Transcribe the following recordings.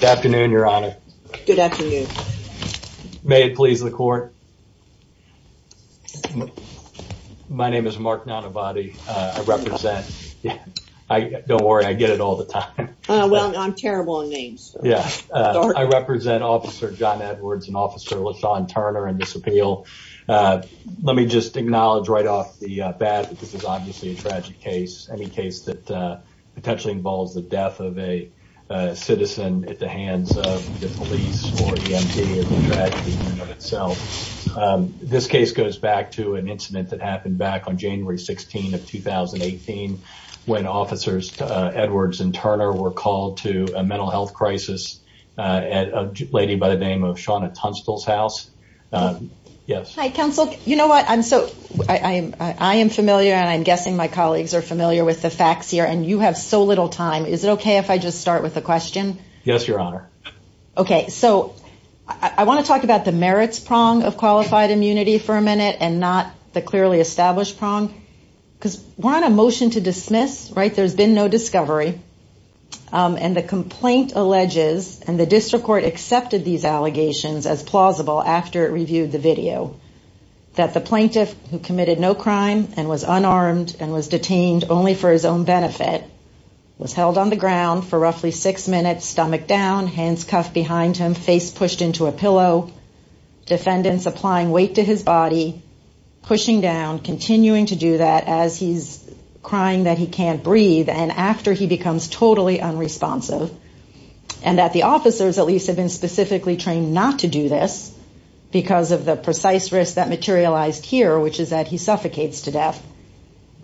Good afternoon, Your Honor. Good afternoon. May it please the court. My name is Mark Nonabadi. I represent, don't worry, I get it all the time. Well, I'm terrible on names. Yeah, I represent Officer John Edwards and Officer LaShawn Turner in this appeal. Let me just acknowledge right off the bat that this is obviously a tragic case, any case that potentially involves the death of a citizen at the hands of the police or the MD. This case goes back to an incident that happened back on January 16 of 2018 when Officers Edwards and Turner were called to a mental health crisis at a lady by the name of Shauna Tunstall's house. Yes. Hi, counsel. You know what? I'm so, I am familiar and I'm guessing my colleagues are familiar with the facts here and you have so little time. Is it okay if I just start with a question? Yes, Your Honor. Okay, so I want to talk about the merits prong of qualified immunity for a minute and not the clearly established prong because we're on a motion to dismiss, right? There's been no discovery and the complaint alleges and the district court accepted these allegations as plausible after it reviewed the video that the plaintiff who committed no crime and was unarmed and was detained only for his own benefit was held on the ground for roughly six minutes, stomach down, hands cuffed behind him, face pushed into a pillow, defendants applying weight to his body, pushing down, continuing to do that as he's crying that he can't breathe and after he becomes totally unresponsive and that the officers at least have been specifically trained not to do this because of the precise risk that materialized here, which is that he suffocates to death,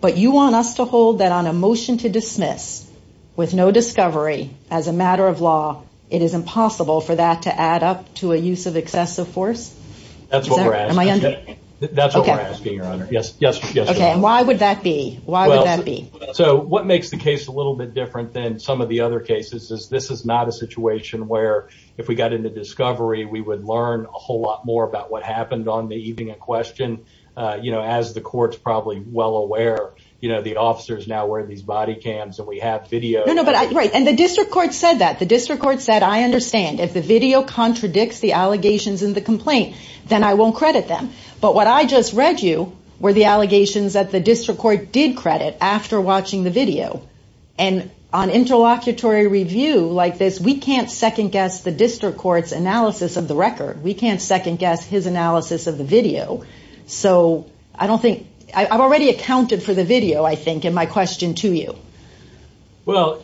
but you want us to hold that on a motion to dismiss with no discovery as a matter of law, it is impossible for that to add up to a use of excessive force? That's what we're asking. That's what we're asking, Your Honor. Yes, yes. Okay, and why would that be? Why would that be? So what makes the case a little bit different than some of the other cases is this is not a lot more about what happened on the evening of question, you know, as the courts probably well aware, you know, the officers now wear these body cams and we have video. No, no, but I'm right. And the district court said that the district court said, I understand if the video contradicts the allegations in the complaint, then I won't credit them. But what I just read you were the allegations that the district court did credit after watching the video. And on interlocutory review like this, we can't second guess the analysis of the video. So I don't think I've already accounted for the video, I think, and my question to you. Well,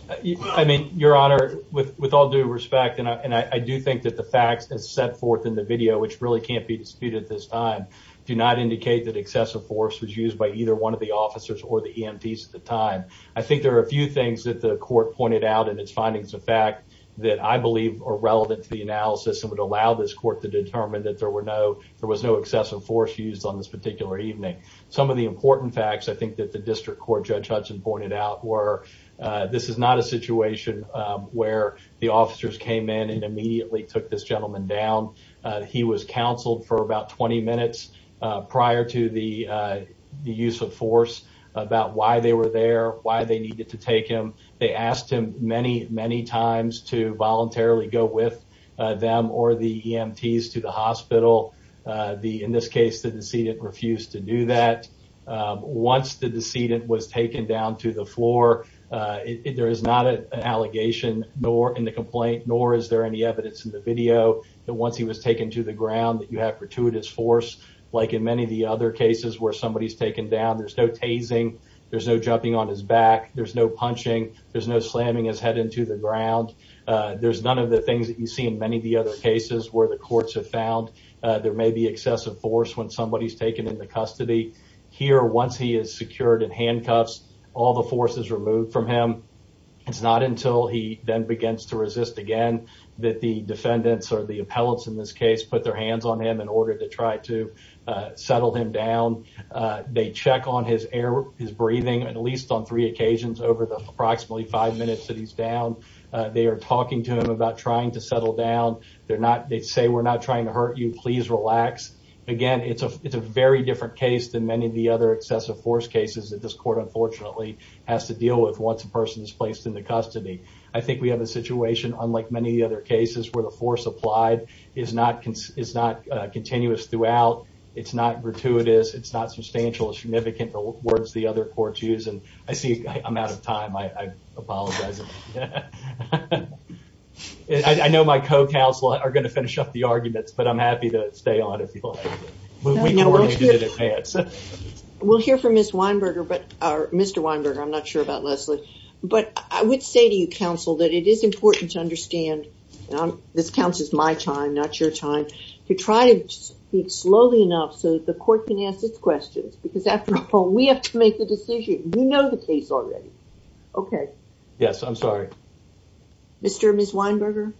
I mean, Your Honor, with all due respect, and I do think that the facts as set forth in the video, which really can't be disputed at this time, do not indicate that excessive force was used by either one of the officers or the EMTs at the time. I think there are a few things that the court pointed out in its findings of fact that I believe are relevant to the analysis and would allow this court to determine that there were no, there was no excessive force used on this particular evening. Some of the important facts I think that the district court judge Hudson pointed out were, this is not a situation where the officers came in and immediately took this gentleman down. He was counseled for about 20 minutes prior to the use of force about why they were there, why they needed to take him. They asked him many, many times to voluntarily go with them or the EMTs to the hospital. In this case, the decedent refused to do that. Once the decedent was taken down to the floor, there is not an allegation in the complaint, nor is there any evidence in the video that once he was taken to the ground that you have gratuitous force, like in many of the other cases where he's taken down, there's no tasing, there's no jumping on his back, there's no punching, there's no slamming his head into the ground. There's none of the things that you see in many of the other cases where the courts have found there may be excessive force when somebody's taken into custody. Here, once he is secured in handcuffs, all the force is removed from him. It's not until he then begins to resist again that the defendants or the appellants in this case put their hands on him in order to try to settle him down. They check on his air, his breathing, at least on three occasions over the approximately five minutes that he's down. They are talking to him about trying to settle down. They say, we're not trying to hurt you, please relax. Again, it's a very different case than many of the other excessive force cases that this court unfortunately has to deal with once a person is placed into custody. I think we have a situation, unlike many other cases, where the force applied is not continuous throughout, it's not gratuitous, it's not substantial or significant, the words the other courts use. I see I'm out of time, I apologize. I know my co-counsel are going to finish up the arguments, but I'm happy to stay on if you like. We can do it in advance. We'll hear from Mr. Weinberger, I'm not sure about you. This counts as my time, not your time, to try to speak slowly enough so that the court can ask its questions, because after the poll, we have to make the decision. You know the case already. Yes, I'm sorry. Mr. and Ms. Weinberger?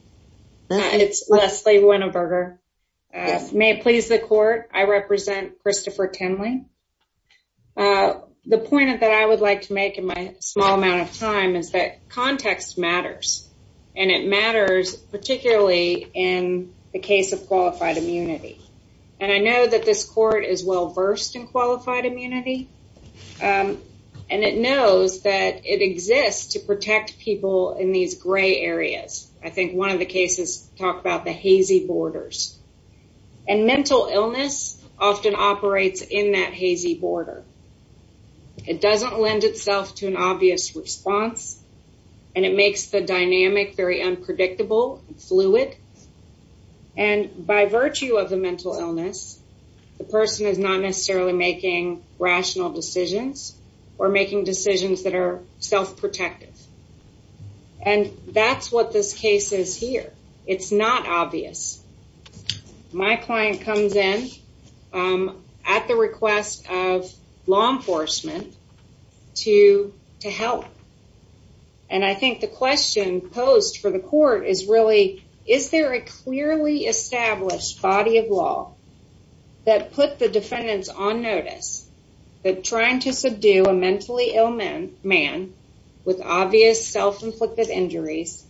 It's Leslie Weinberger. May it please the court, I represent Christopher Tenley. The point that I would like to make in my small amount of time is that context matters, and it matters particularly in the case of qualified immunity. I know that this court is well-versed in qualified immunity, and it knows that it exists to protect people in these gray areas. I think one of the cases talked about the hazy borders, and mental illness often operates in that hazy border. It doesn't lend itself to an obvious response, and it makes the dynamic very unpredictable and fluid. By virtue of the mental illness, the person is not necessarily making rational decisions, or making decisions that are self-protective. That's what this case is here. It's not obvious. My client comes in at the request of law enforcement to help, and I think the question posed for the court is really, is there a clearly established body of law that put the defendants on notice that trying to subdue a mentally ill man with obvious self-inflicted injuries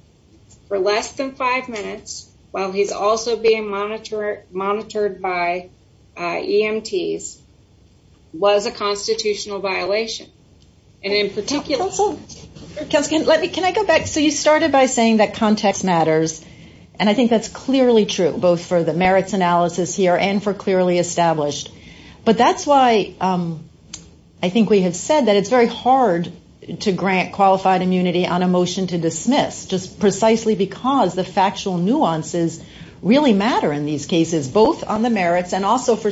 for less than five minutes, while he's also being monitored by EMTs, was a constitutional violation, and in particular... Dr. Stiles, can I go back? You started by saying that context matters, and I think that's clearly true, both for the merits analysis here and for clearly established, but that's why I think we have said that it's very hard to grant qualified immunity on a motion to really matter in these cases, both on the merits and also for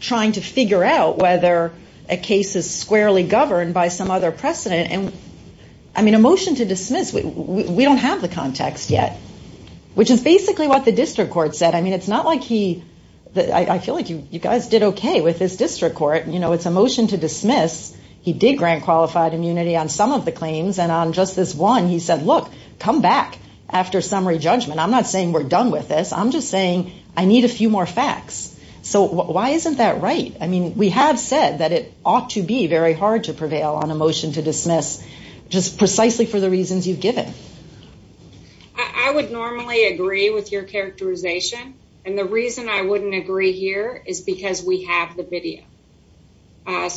trying to figure out whether a case is squarely governed by some other precedent. A motion to dismiss, we don't have the context yet, which is basically what the district court said. I feel like you guys did okay with this district court. It's a motion to dismiss. He did grant qualified immunity on some of the claims, and on just this one, he said, look, come back after summary judgment. I'm not saying we're done with this. I'm just saying I need a few more facts. Why isn't that right? We have said that it ought to be very hard to prevail on a motion to dismiss, just precisely for the reasons you've given. I would normally agree with your characterization, and the reason I wouldn't agree here is because we have the video. Again,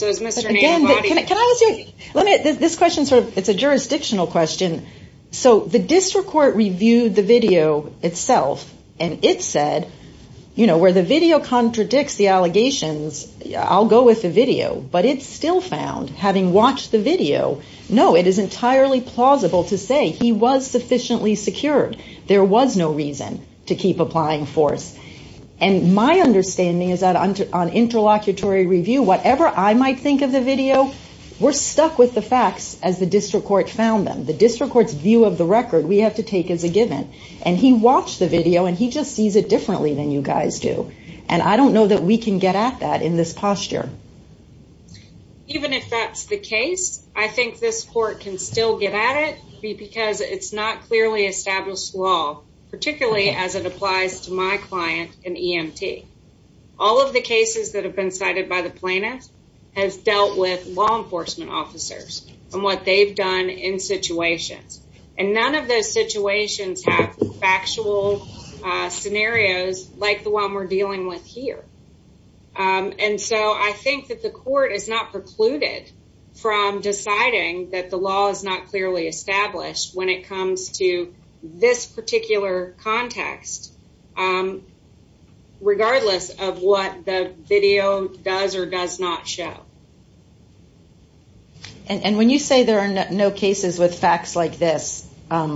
can I ask you... This question, it's a jurisdictional question. The district court reviewed the video itself, and it said where the video contradicts the allegations, I'll go with the video, but it still found, having watched the video, no, it is entirely plausible to say he was sufficiently secured. There was no reason to keep applying force. My understanding is that on interlocutory review, whatever I might think of the video, we're stuck with the facts as the district court found them. The district court's view of the record, we have to take as a given, and he watched the video, and he just sees it differently than you guys do, and I don't know that we can get at that in this posture. Even if that's the case, I think this court can still get at it because it's not clearly established law, particularly as it applies to my client in EMT. All of the cases that have been by the plaintiff has dealt with law enforcement officers and what they've done in situations, and none of those situations have factual scenarios like the one we're dealing with here, and so I think that the court is not precluded from deciding that the law is not clearly show. And when you say there are no cases with facts like this, I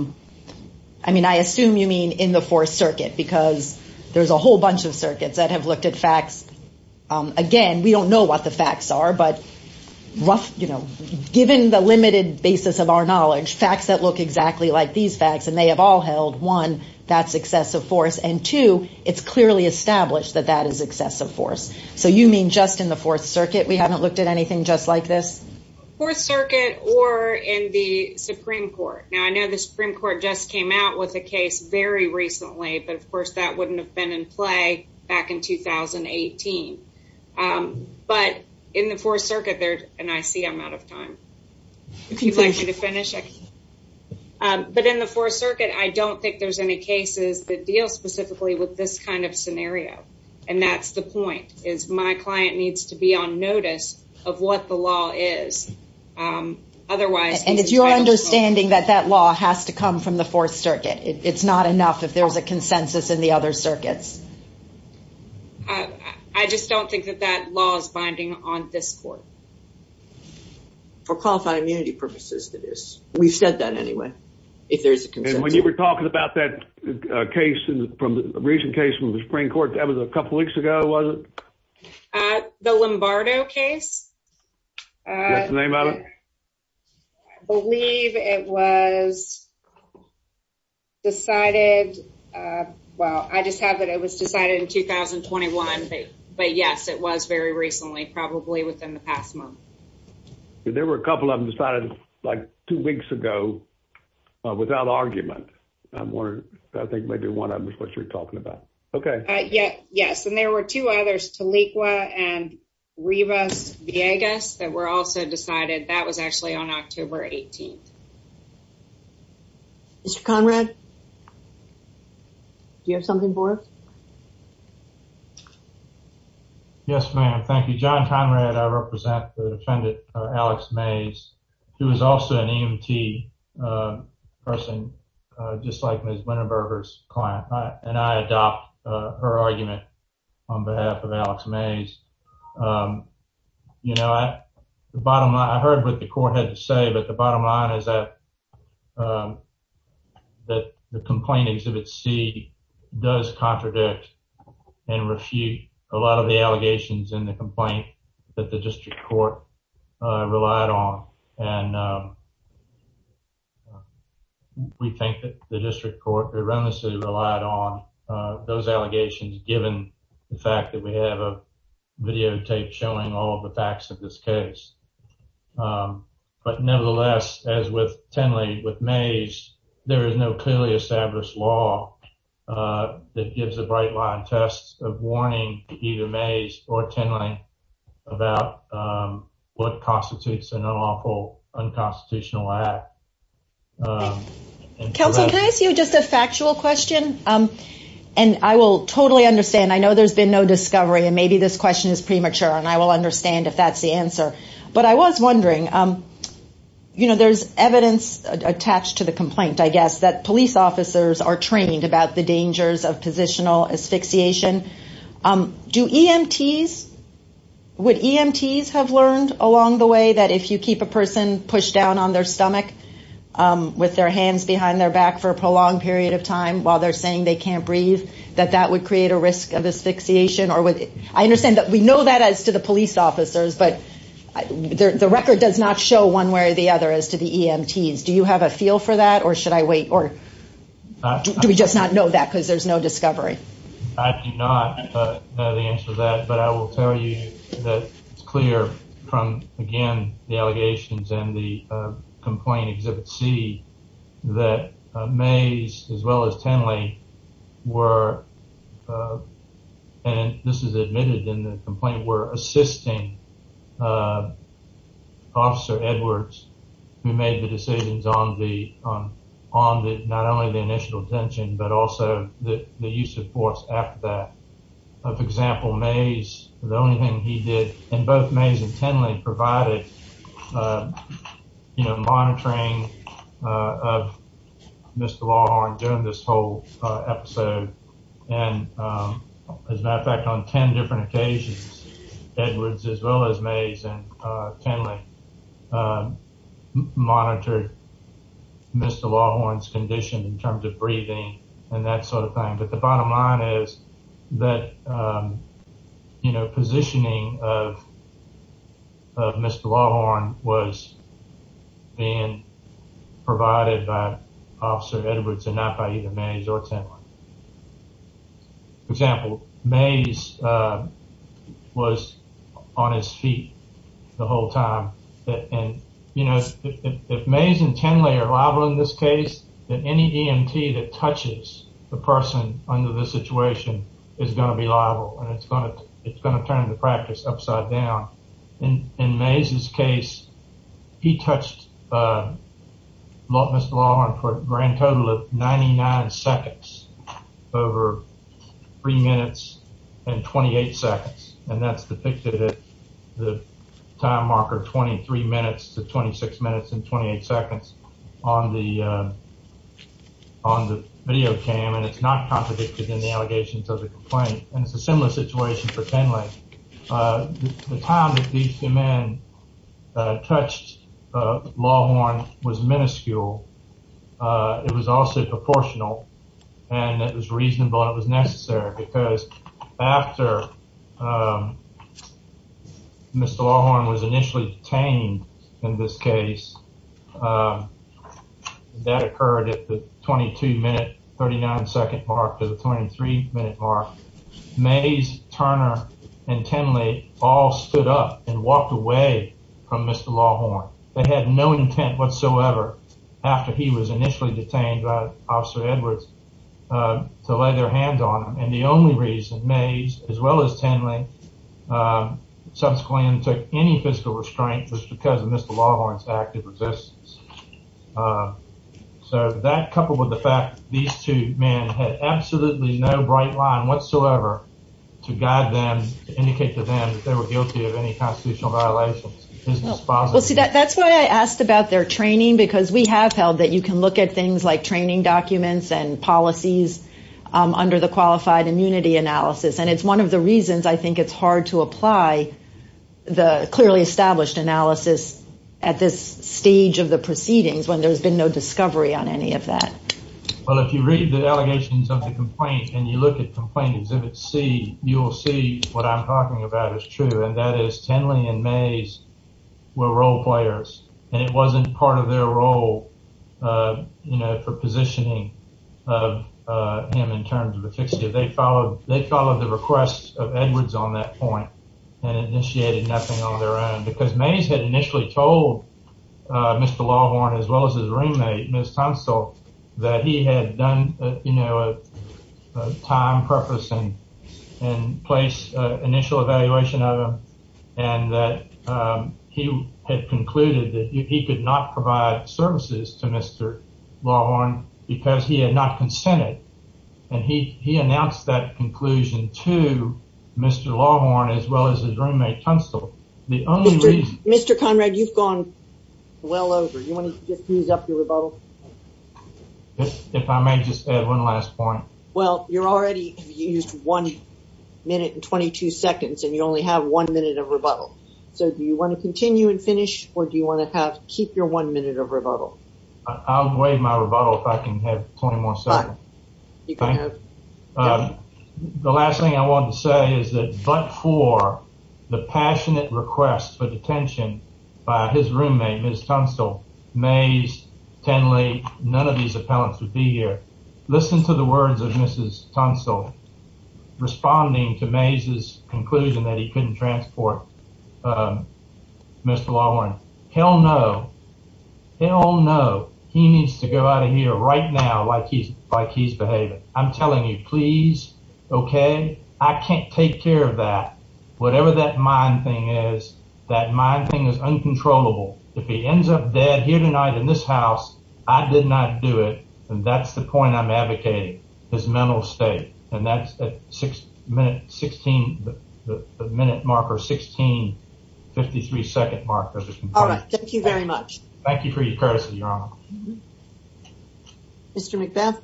assume you mean in the fourth circuit because there's a whole bunch of circuits that have looked at facts. Again, we don't know what the facts are, but given the limited basis of our knowledge, facts that look exactly like these facts, and they have all held, one, that's excessive force, and two, it's clearly established that that is excessive force. So you mean just in the fourth circuit, we haven't looked at anything just like this? Fourth circuit or in the Supreme Court. Now, I know the Supreme Court just came out with a case very recently, but of course, that wouldn't have been in play back in 2018. But in the fourth circuit, and I see I'm out of time. If you'd like me to finish. But in the fourth circuit, I don't think there's any cases that deal specifically with this kind of scenario. And that's the point is my client needs to be on notice of what the law is. Otherwise, and it's your understanding that that law has to come from the fourth circuit. It's not enough if there's a consensus in the other circuits. I just don't think that that law is binding on this court. For qualified immunity purposes, that is. We've said that anyway, if there's a consensus. You were talking about that case from the recent case from the Supreme Court, that was a couple weeks ago, was it? The Lombardo case? That's the name of it? I believe it was decided. Well, I just have it. It was decided in 2021. But yes, it was very recently, probably within the past month. There were a couple of them decided like two weeks ago without argument. I think maybe one of them is what you're talking about. Okay. Yes. And there were two others, Taliqua and Rivas-Villegas that were also decided. That was actually on October 18th. Mr. Conrad, do you have something for us? Yes, ma'am. Thank you. John Conrad. I represent the defendant, Alex Mays, who is also an EMT person, just like Ms. Winterberger's client. And I adopt her argument on behalf of Alex Mays. I heard what the court had to say, but the bottom line is that the complaint Exhibit C does contradict and refute a lot of the allegations in the complaint that the district court relied on. And we think that the district court erroneously relied on those allegations given the fact that we have a videotape showing all the facts of this case. But nevertheless, as with Tenley, with Mays, there is no clearly established law that gives a bright line test of warning either Mays or Tenley about what constitutes an unlawful unconstitutional act. Counsel, can I ask you just a factual question? And I will totally understand. I know there's been no discovery and maybe this question is premature and I will understand if that's the I was wondering, there's evidence attached to the complaint, I guess, that police officers are trained about the dangers of positional asphyxiation. Do EMTs, would EMTs have learned along the way that if you keep a person pushed down on their stomach with their hands behind their back for a prolonged period of time while they're saying they can't breathe, that that would create a risk of asphyxiation? I understand that we know that as to the police officers, but the record does not show one way or the other as to the EMTs. Do you have a feel for that or should I wait or do we just not know that because there's no discovery? I do not know the answer to that, but I will tell you that it's clear from, again, the allegations and the complaint Exhibit C that Mays as well as Tenley were, and this is admitted in the complaint, were assisting Officer Edwards who made the decisions on the, on the, not only the initial detention, but also the use of force after that. For example, Mays, the only thing he did, and both Mays and Tenley provided, you know, monitoring of Mr. Lawhorn during this whole episode and, as a matter of fact, on 10 different occasions Edwards as well as Mays and Tenley monitored Mr. Lawhorn's condition in terms of breathing and that sort of thing, but the bottom line is that, you know, positioning of Mr. Lawhorn was being provided by Officer Edwards and not by either Mays or Tenley. For example, Mays was on his feet the whole time and, you know, if Mays and Tenley are liable in this case, then any EMT that touches the person under this situation is going to be liable and it's going to turn the practice upside down. In Mays' case, he touched Mr. Lawhorn for a grand total of 99 seconds, over 3 minutes and 28 seconds, and that's depicted at the time marker 23 minutes to 26 minutes and 28 seconds on the video cam and it's not contradicted in the situation for Tenley. The time that these two men touched Lawhorn was minuscule. It was also proportional and it was reasonable and it was necessary because after Mr. Lawhorn was initially detained in this case, that occurred at the 22 minute 39 second mark to the 23 minute mark. Mays, Turner, and Tenley all stood up and walked away from Mr. Lawhorn. They had no intent whatsoever after he was initially detained by Officer Edwards to lay their hands on him and the only reason Mays, as well as Tenley, subsequently undertook any physical restraint was because of Mr. Lawhorn's active resistance. So that coupled with the fact that these two men had absolutely no bright line whatsoever to guide them, to indicate to them that they were guilty of any constitutional violations is dispositive. Well see that's why I asked about their training because we have held that you can look at things like training documents and policies under the qualified immunity analysis and it's one of the reasons I think it's hard to apply the clearly established analysis at this stage of the proceedings when there's been no discovery on any of that. Well if you read the allegations of the complaint and you look at complaint exhibit C, you'll see what I'm talking about is true and that is Tenley and Mays were role players and it wasn't part of their role, you know, for positioning of him in terms of the fixative. They followed the request of Edwards on that point and initiated nothing on their own because Mays had initially told Mr. Lawhorn as well as his roommate Ms. Tunstall that he had done, you know, a time preface and place initial evaluation of him and that he had concluded that he could not provide services to Mr. Lawhorn because he had not consented and he announced that conclusion to Mr. Lawhorn as well as his roommate Tunstall. Mr. Conrad, you've gone well over. You want to just ease up your rebuttal? If I may just add one last point. Well you're already used one minute and 22 seconds and you only have one minute of rebuttal. So do you want to continue and I'll waive my rebuttal if I can have 20 more seconds. The last thing I want to say is that but for the passionate request for detention by his roommate Ms. Tunstall, Mays, Tenley, none of these appellants would be here. Listen to the words of Mrs. Tunstall responding to Mays' conclusion that he couldn't transport Mr. Lawhorn. Hell no. Hell no. He needs to go out of here right now like he's behaving. I'm telling you please. Okay. I can't take care of that. Whatever that mind thing is, that mind thing is uncontrollable. If he ends up dead here tonight in this house, I did not do it and that's the point I'm advocating. His mental state. And that's at the minute marker 16, 53 second marker. All right. Thank you very much. Thank you for your courtesy, Your Honor. Mr. Mcbeth.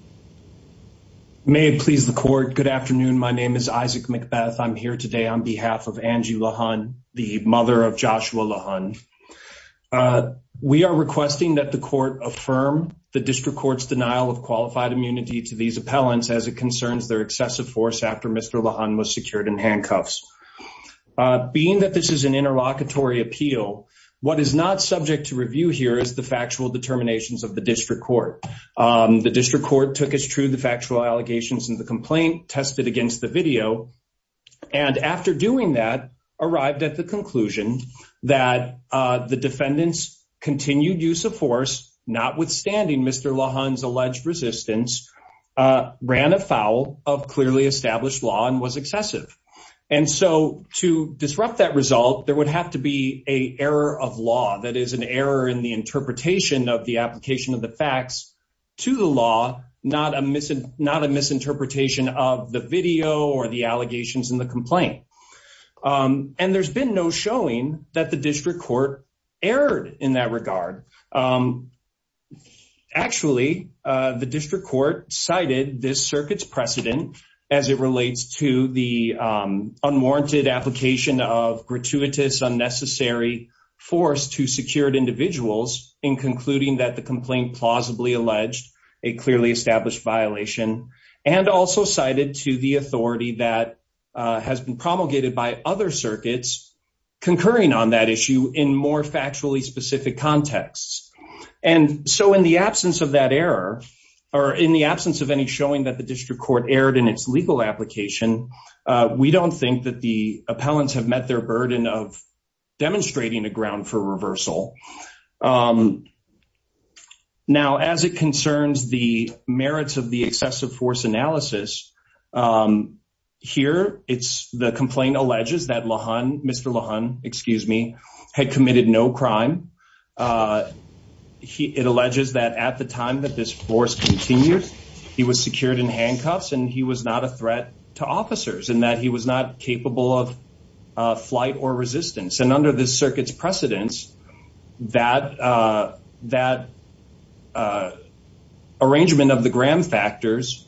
May it please the court. Good afternoon. My name is Isaac Mcbeth. I'm here on behalf of Angie Lawhorn, the mother of Joshua Lawhorn. We are requesting that the court affirm the district court's denial of qualified immunity to these appellants as it concerns their excessive force after Mr. Lawhorn was secured in handcuffs. Being that this is an interlocutory appeal, what is not subject to review here is the factual determinations of the district court. The district court took as true the factual allegations in the complaint, tested against the video, and after doing that, arrived at the conclusion that the defendant's continued use of force, notwithstanding Mr. Lawhorn's alleged resistance, ran afoul of clearly established law and was excessive. And so to disrupt that result, there would have to be a error of law that is an error in the interpretation of the application of the facts to the law, not a misinterpretation of the video or the allegations in the complaint. And there's been no showing that the district court erred in that regard. Actually, the district court cited this circuit's precedent as it relates to the unwarranted application of gratuitous, unnecessary force to secured individuals in concluding that the complaint plausibly alleged a clearly established violation and also cited to the authority that has been promulgated by other circuits concurring on that issue in more factually specific contexts. And so in the absence of that error or in the absence of any showing that the district court erred in its legal application, we don't think that the appellants have met their burden of accountability. Now, as it concerns the merits of the excessive force analysis, here it's the complaint alleges that Mr. Lawhorn had committed no crime. It alleges that at the time that this force continued, he was secured in handcuffs and he was not a threat to officers and that he was not capable of flight or resistance. And under this that arrangement of the Graham factors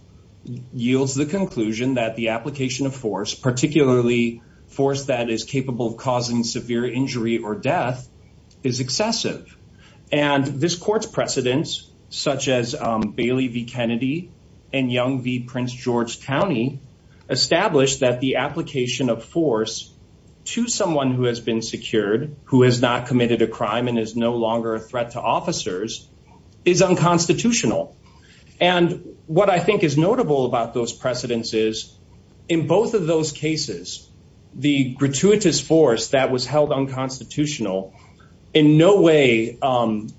yields the conclusion that the application of force, particularly force that is capable of causing severe injury or death, is excessive. And this court's precedents, such as Bailey v. Kennedy and Young v. Prince George County, established that the application of force to someone who has been secured, who has not committed a crime and is no longer a threat to officers, is unconstitutional. And what I think is notable about those precedents is in both of those cases, the gratuitous force that was held unconstitutional in no way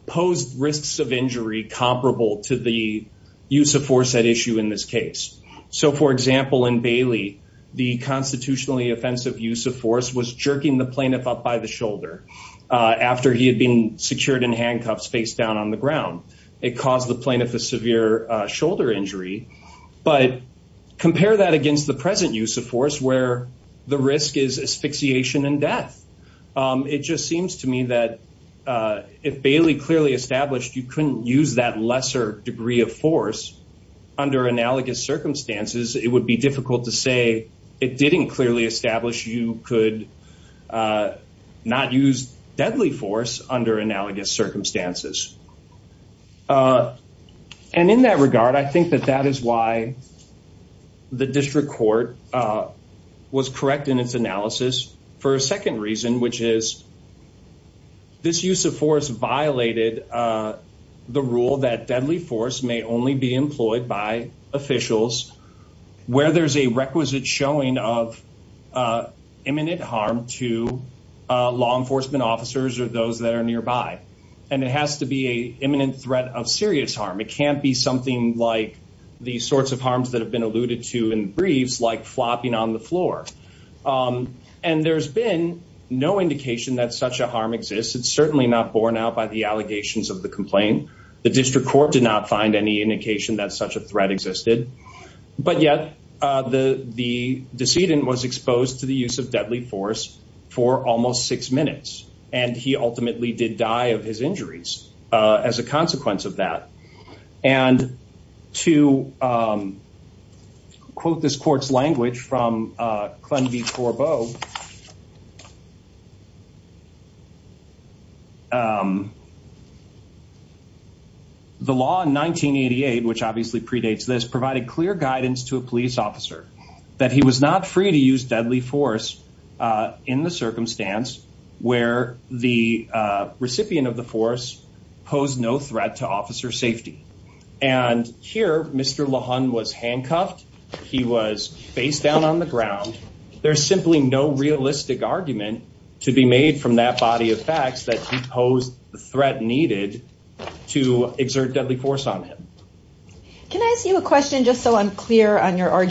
posed risks of injury comparable to the use of force at issue in this case. So for example, in Bailey, the constitutionally offensive use of force was jerking the plaintiff up by the shoulder after he had been secured in handcuffs face down on the ground. It caused the plaintiff a severe shoulder injury. But compare that against the present use of force where the risk is asphyxiation and death. It just seems to me that if Bailey clearly established you couldn't use that lesser degree of force under analogous circumstances, it would be difficult to say it didn't clearly establish you could not use deadly force under analogous circumstances. And in that regard, I think that that is why the district court was correct in its analysis. For a second reason, which is this use of force violated the rule that deadly force may only be imminent harm to law enforcement officers or those that are nearby. And it has to be a imminent threat of serious harm. It can't be something like the sorts of harms that have been alluded to in briefs like flopping on the floor. And there's been no indication that such a harm exists. It's certainly not borne out by the allegations of the complaint. The district court did not find any indication that such a threat existed. But yet the decedent was exposed to the use of deadly force for almost six minutes. And he ultimately did die of his injuries as a consequence of that. And to quote this court's language from Clem B. Corbeau, the law in 1988, which obviously predates this, provided clear guidance to a police officer that he was not free to use deadly force in the circumstance where the recipient of the force posed no threat to officer safety. And here, Mr. LaHun was handcuffed. He was face down on the ground. There's simply no realistic argument to be made from that body of facts that he posed the threat needed to exert deadly force on him. Can I ask you a question just so I'm clear on Tennessee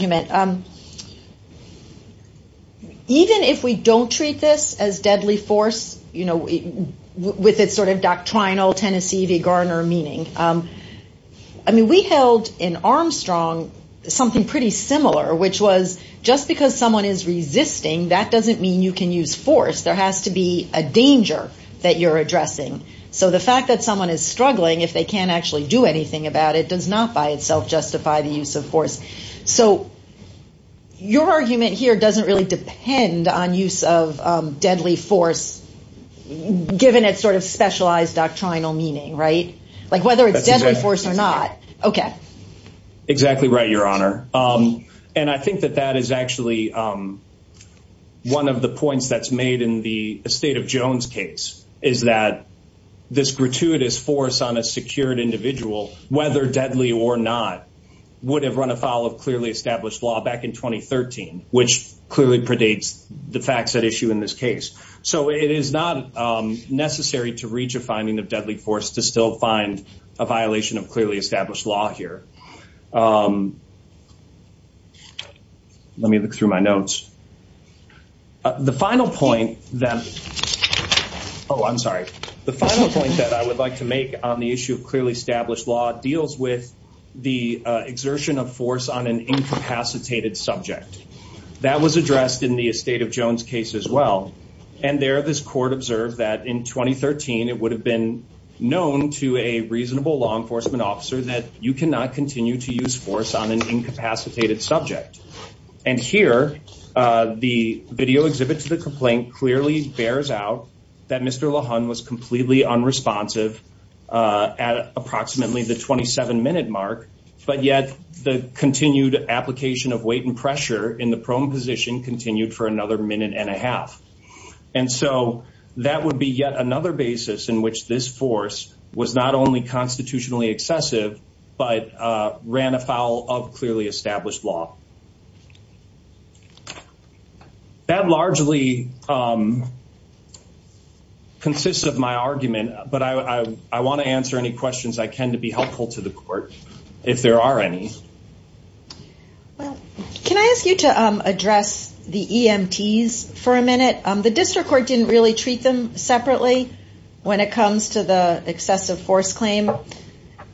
v. Garner meaning? I mean, we held in Armstrong something pretty similar, which was just because someone is resisting, that doesn't mean you can use force. There has to be a danger that you're addressing. So the fact that someone is struggling, if they can't actually do anything about it, does not by itself justify the use of force. So your argument here doesn't really depend on use of deadly force, given its sort of specialized doctrinal meaning, right? Like whether it's deadly force or not. Okay. Exactly right, Your Honor. And I think that that is actually one of the points that's made in the estate of Jones case is that this gratuitous force on a secured individual, whether deadly or not, would have run afoul of the facts at issue in this case. So it is not necessary to reach a finding of deadly force to still find a violation of clearly established law here. Let me look through my notes. The final point that, oh, I'm sorry. The final point that I would like to make on the issue of clearly established law deals with the exertion of force on an incapacitated subject. That was addressed in the estate of Jones case as well. And there, this court observed that in 2013, it would have been known to a reasonable law enforcement officer that you cannot continue to use force on an incapacitated subject. And here, the video exhibit to the complaint clearly bears out that Mr. LaHun was completely unresponsive at approximately the 27 minute mark, but yet the continued application of weight and pressure in the prone position continued for another minute and a half. And so that would be yet another basis in which this force was not only constitutionally excessive, but ran afoul of I want to answer any questions I can to be helpful to the court, if there are any. Well, can I ask you to address the EMTs for a minute? The district court didn't really treat them separately when it comes to the excessive force claim.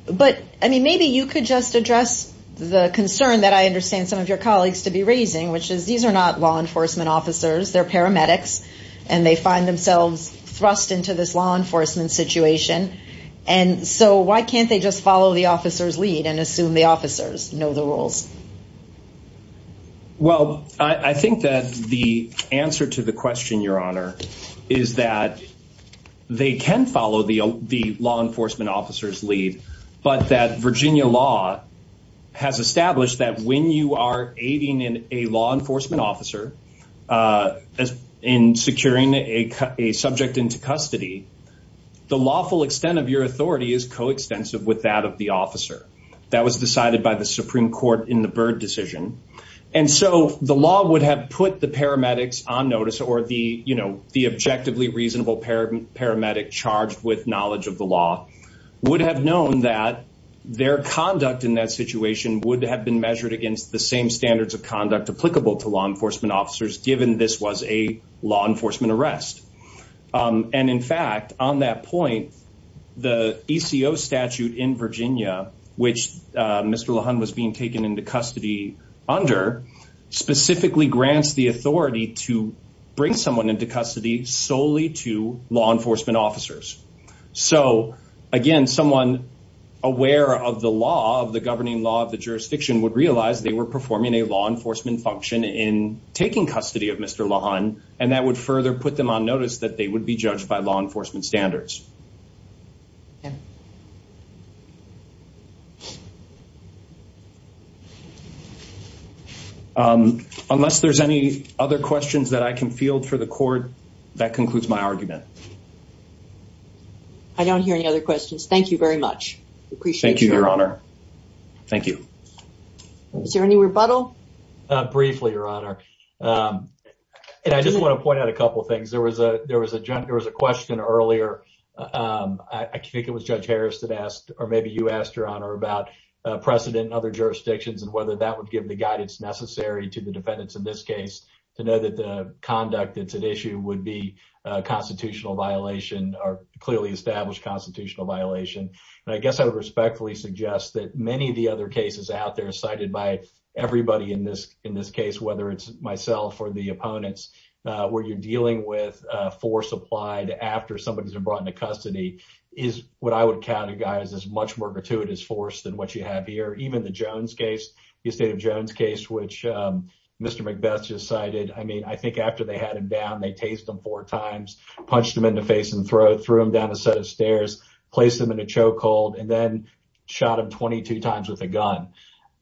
But I mean, maybe you could just address the concern that I understand some of your colleagues to be raising, which is these are not law enforcement officers, they're paramedics, and they find themselves thrust into this law enforcement situation. And so why can't they just follow the officer's lead and assume the officers know the rules? Well, I think that the answer to the question, Your Honor, is that they can follow the law enforcement officer's lead, but that Virginia law has established that when you are the lawful extent of your authority is coextensive with that of the officer. That was decided by the Supreme Court in the Byrd decision. And so the law would have put the paramedics on notice or the you know, the objectively reasonable paramedic paramedic charged with knowledge of the law would have known that their conduct in that situation would have been measured against the same standards of conduct applicable to law enforcement officers, given this was a law enforcement arrest. And in fact, on that point, the ECO statute in Virginia, which Mr. Lehun was being taken into custody under specifically grants the authority to bring someone into custody solely to law enforcement officers. So again, someone aware of the law of the governing law of the jurisdiction would realize they were performing a law Mr. Lehun, and that would further put them on notice that they would be judged by law enforcement standards. Unless there's any other questions that I can field for the court, that concludes my argument. I don't hear any other questions. Thank you very much. Thank you, Your Honor. Thank you. Is there any rebuttal? Briefly, Your Honor. And I just want to point out a couple things. There was a there was a there was a question earlier. I think it was Judge Harris that asked, or maybe you asked, Your Honor, about precedent in other jurisdictions and whether that would give the guidance necessary to the defendants in this case to know that the conduct that's at issue would be a constitutional violation or clearly established constitutional violation. And I guess I would respectfully suggest that many of the other cases out there cited by everybody in this in this case, whether it's myself or the opponents where you're dealing with force applied after somebody's been brought into custody, is what I would categorize as much more gratuitous force than what you have here. Even the Jones case, the estate of Jones case, which Mr. McBeth just cited, I mean, I think after they had him down, they chased him four times, punched him in the face threw him down a set of stairs, placed him in a choke hold, and then shot him 22 times with a gun.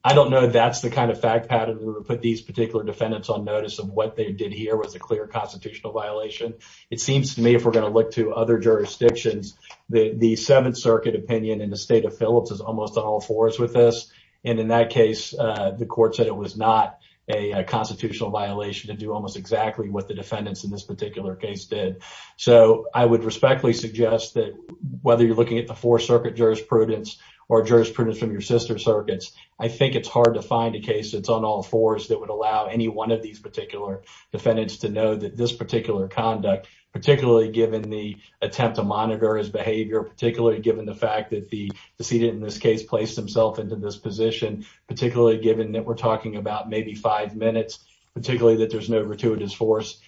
I don't know that's the kind of fact pattern that would put these particular defendants on notice of what they did here was a clear constitutional violation. It seems to me if we're going to look to other jurisdictions, the Seventh Circuit opinion in the state of Phillips is almost on all fours with this. And in that case, the court said it was not a constitutional violation to do almost exactly what the defendants in this particular case did. So I would respectfully suggest that whether you're looking at the Fourth Circuit jurisprudence or jurisprudence from your sister circuits, I think it's hard to find a case that's on all fours that would allow any one of these particular defendants to know that this particular conduct, particularly given the attempt to monitor his behavior, particularly given the fact that the decedent in this case placed himself into this position, particularly given that we're talking about maybe five minutes, particularly that there's no gratuitous force.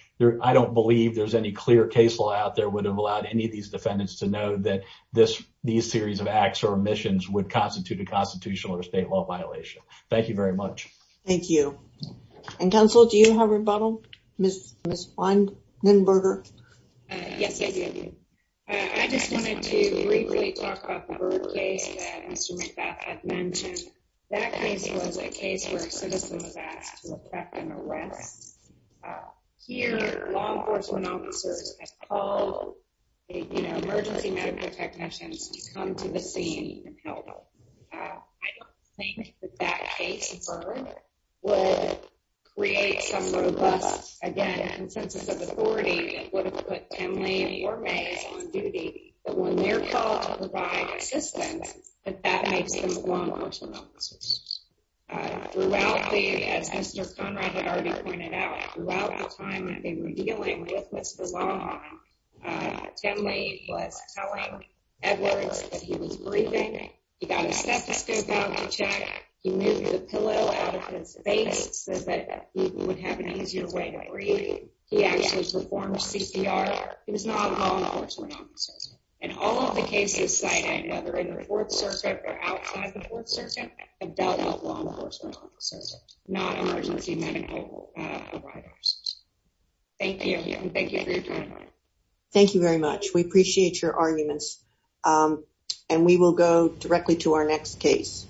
I don't believe there's any clear case law out there would have allowed any of these defendants to know that these series of acts or omissions would constitute a constitutional or state law violation. Thank you very much. Thank you. And counsel, do you have a rebuttal, Ms. Weinberger? Yes, I do. I just wanted to briefly talk about the Bird case that Mr. McBeth had mentioned. That case was a case where a citizen was asked to effect an arrest. Here, law enforcement officers had called emergency medical technicians to come to the scene and help. I don't think that that case, Bird, would create some robust, again, consensus of authority that would have put Tim Lee or Mays on duty, but when they're called to provide assistance, that that makes them law enforcement officers. Throughout the, as Mr. Conrad had already pointed out, throughout the time that they were dealing with Mr. Longhorn, Tim Lee was telling Edwards that he was breathing, he got his stethoscope checked, he moved the pillow out of his face so that he would have an easier way to breathe. He actually performed CPR. He was not a law enforcement officer. And all of the cases cited, whether in the Fourth Circuit or outside the Fourth Circuit, have dealt with law enforcement officers, not emergency medical providers. Thank you. Thank you for your time. Thank you very much. We appreciate your arguments. And we will go directly to our next case.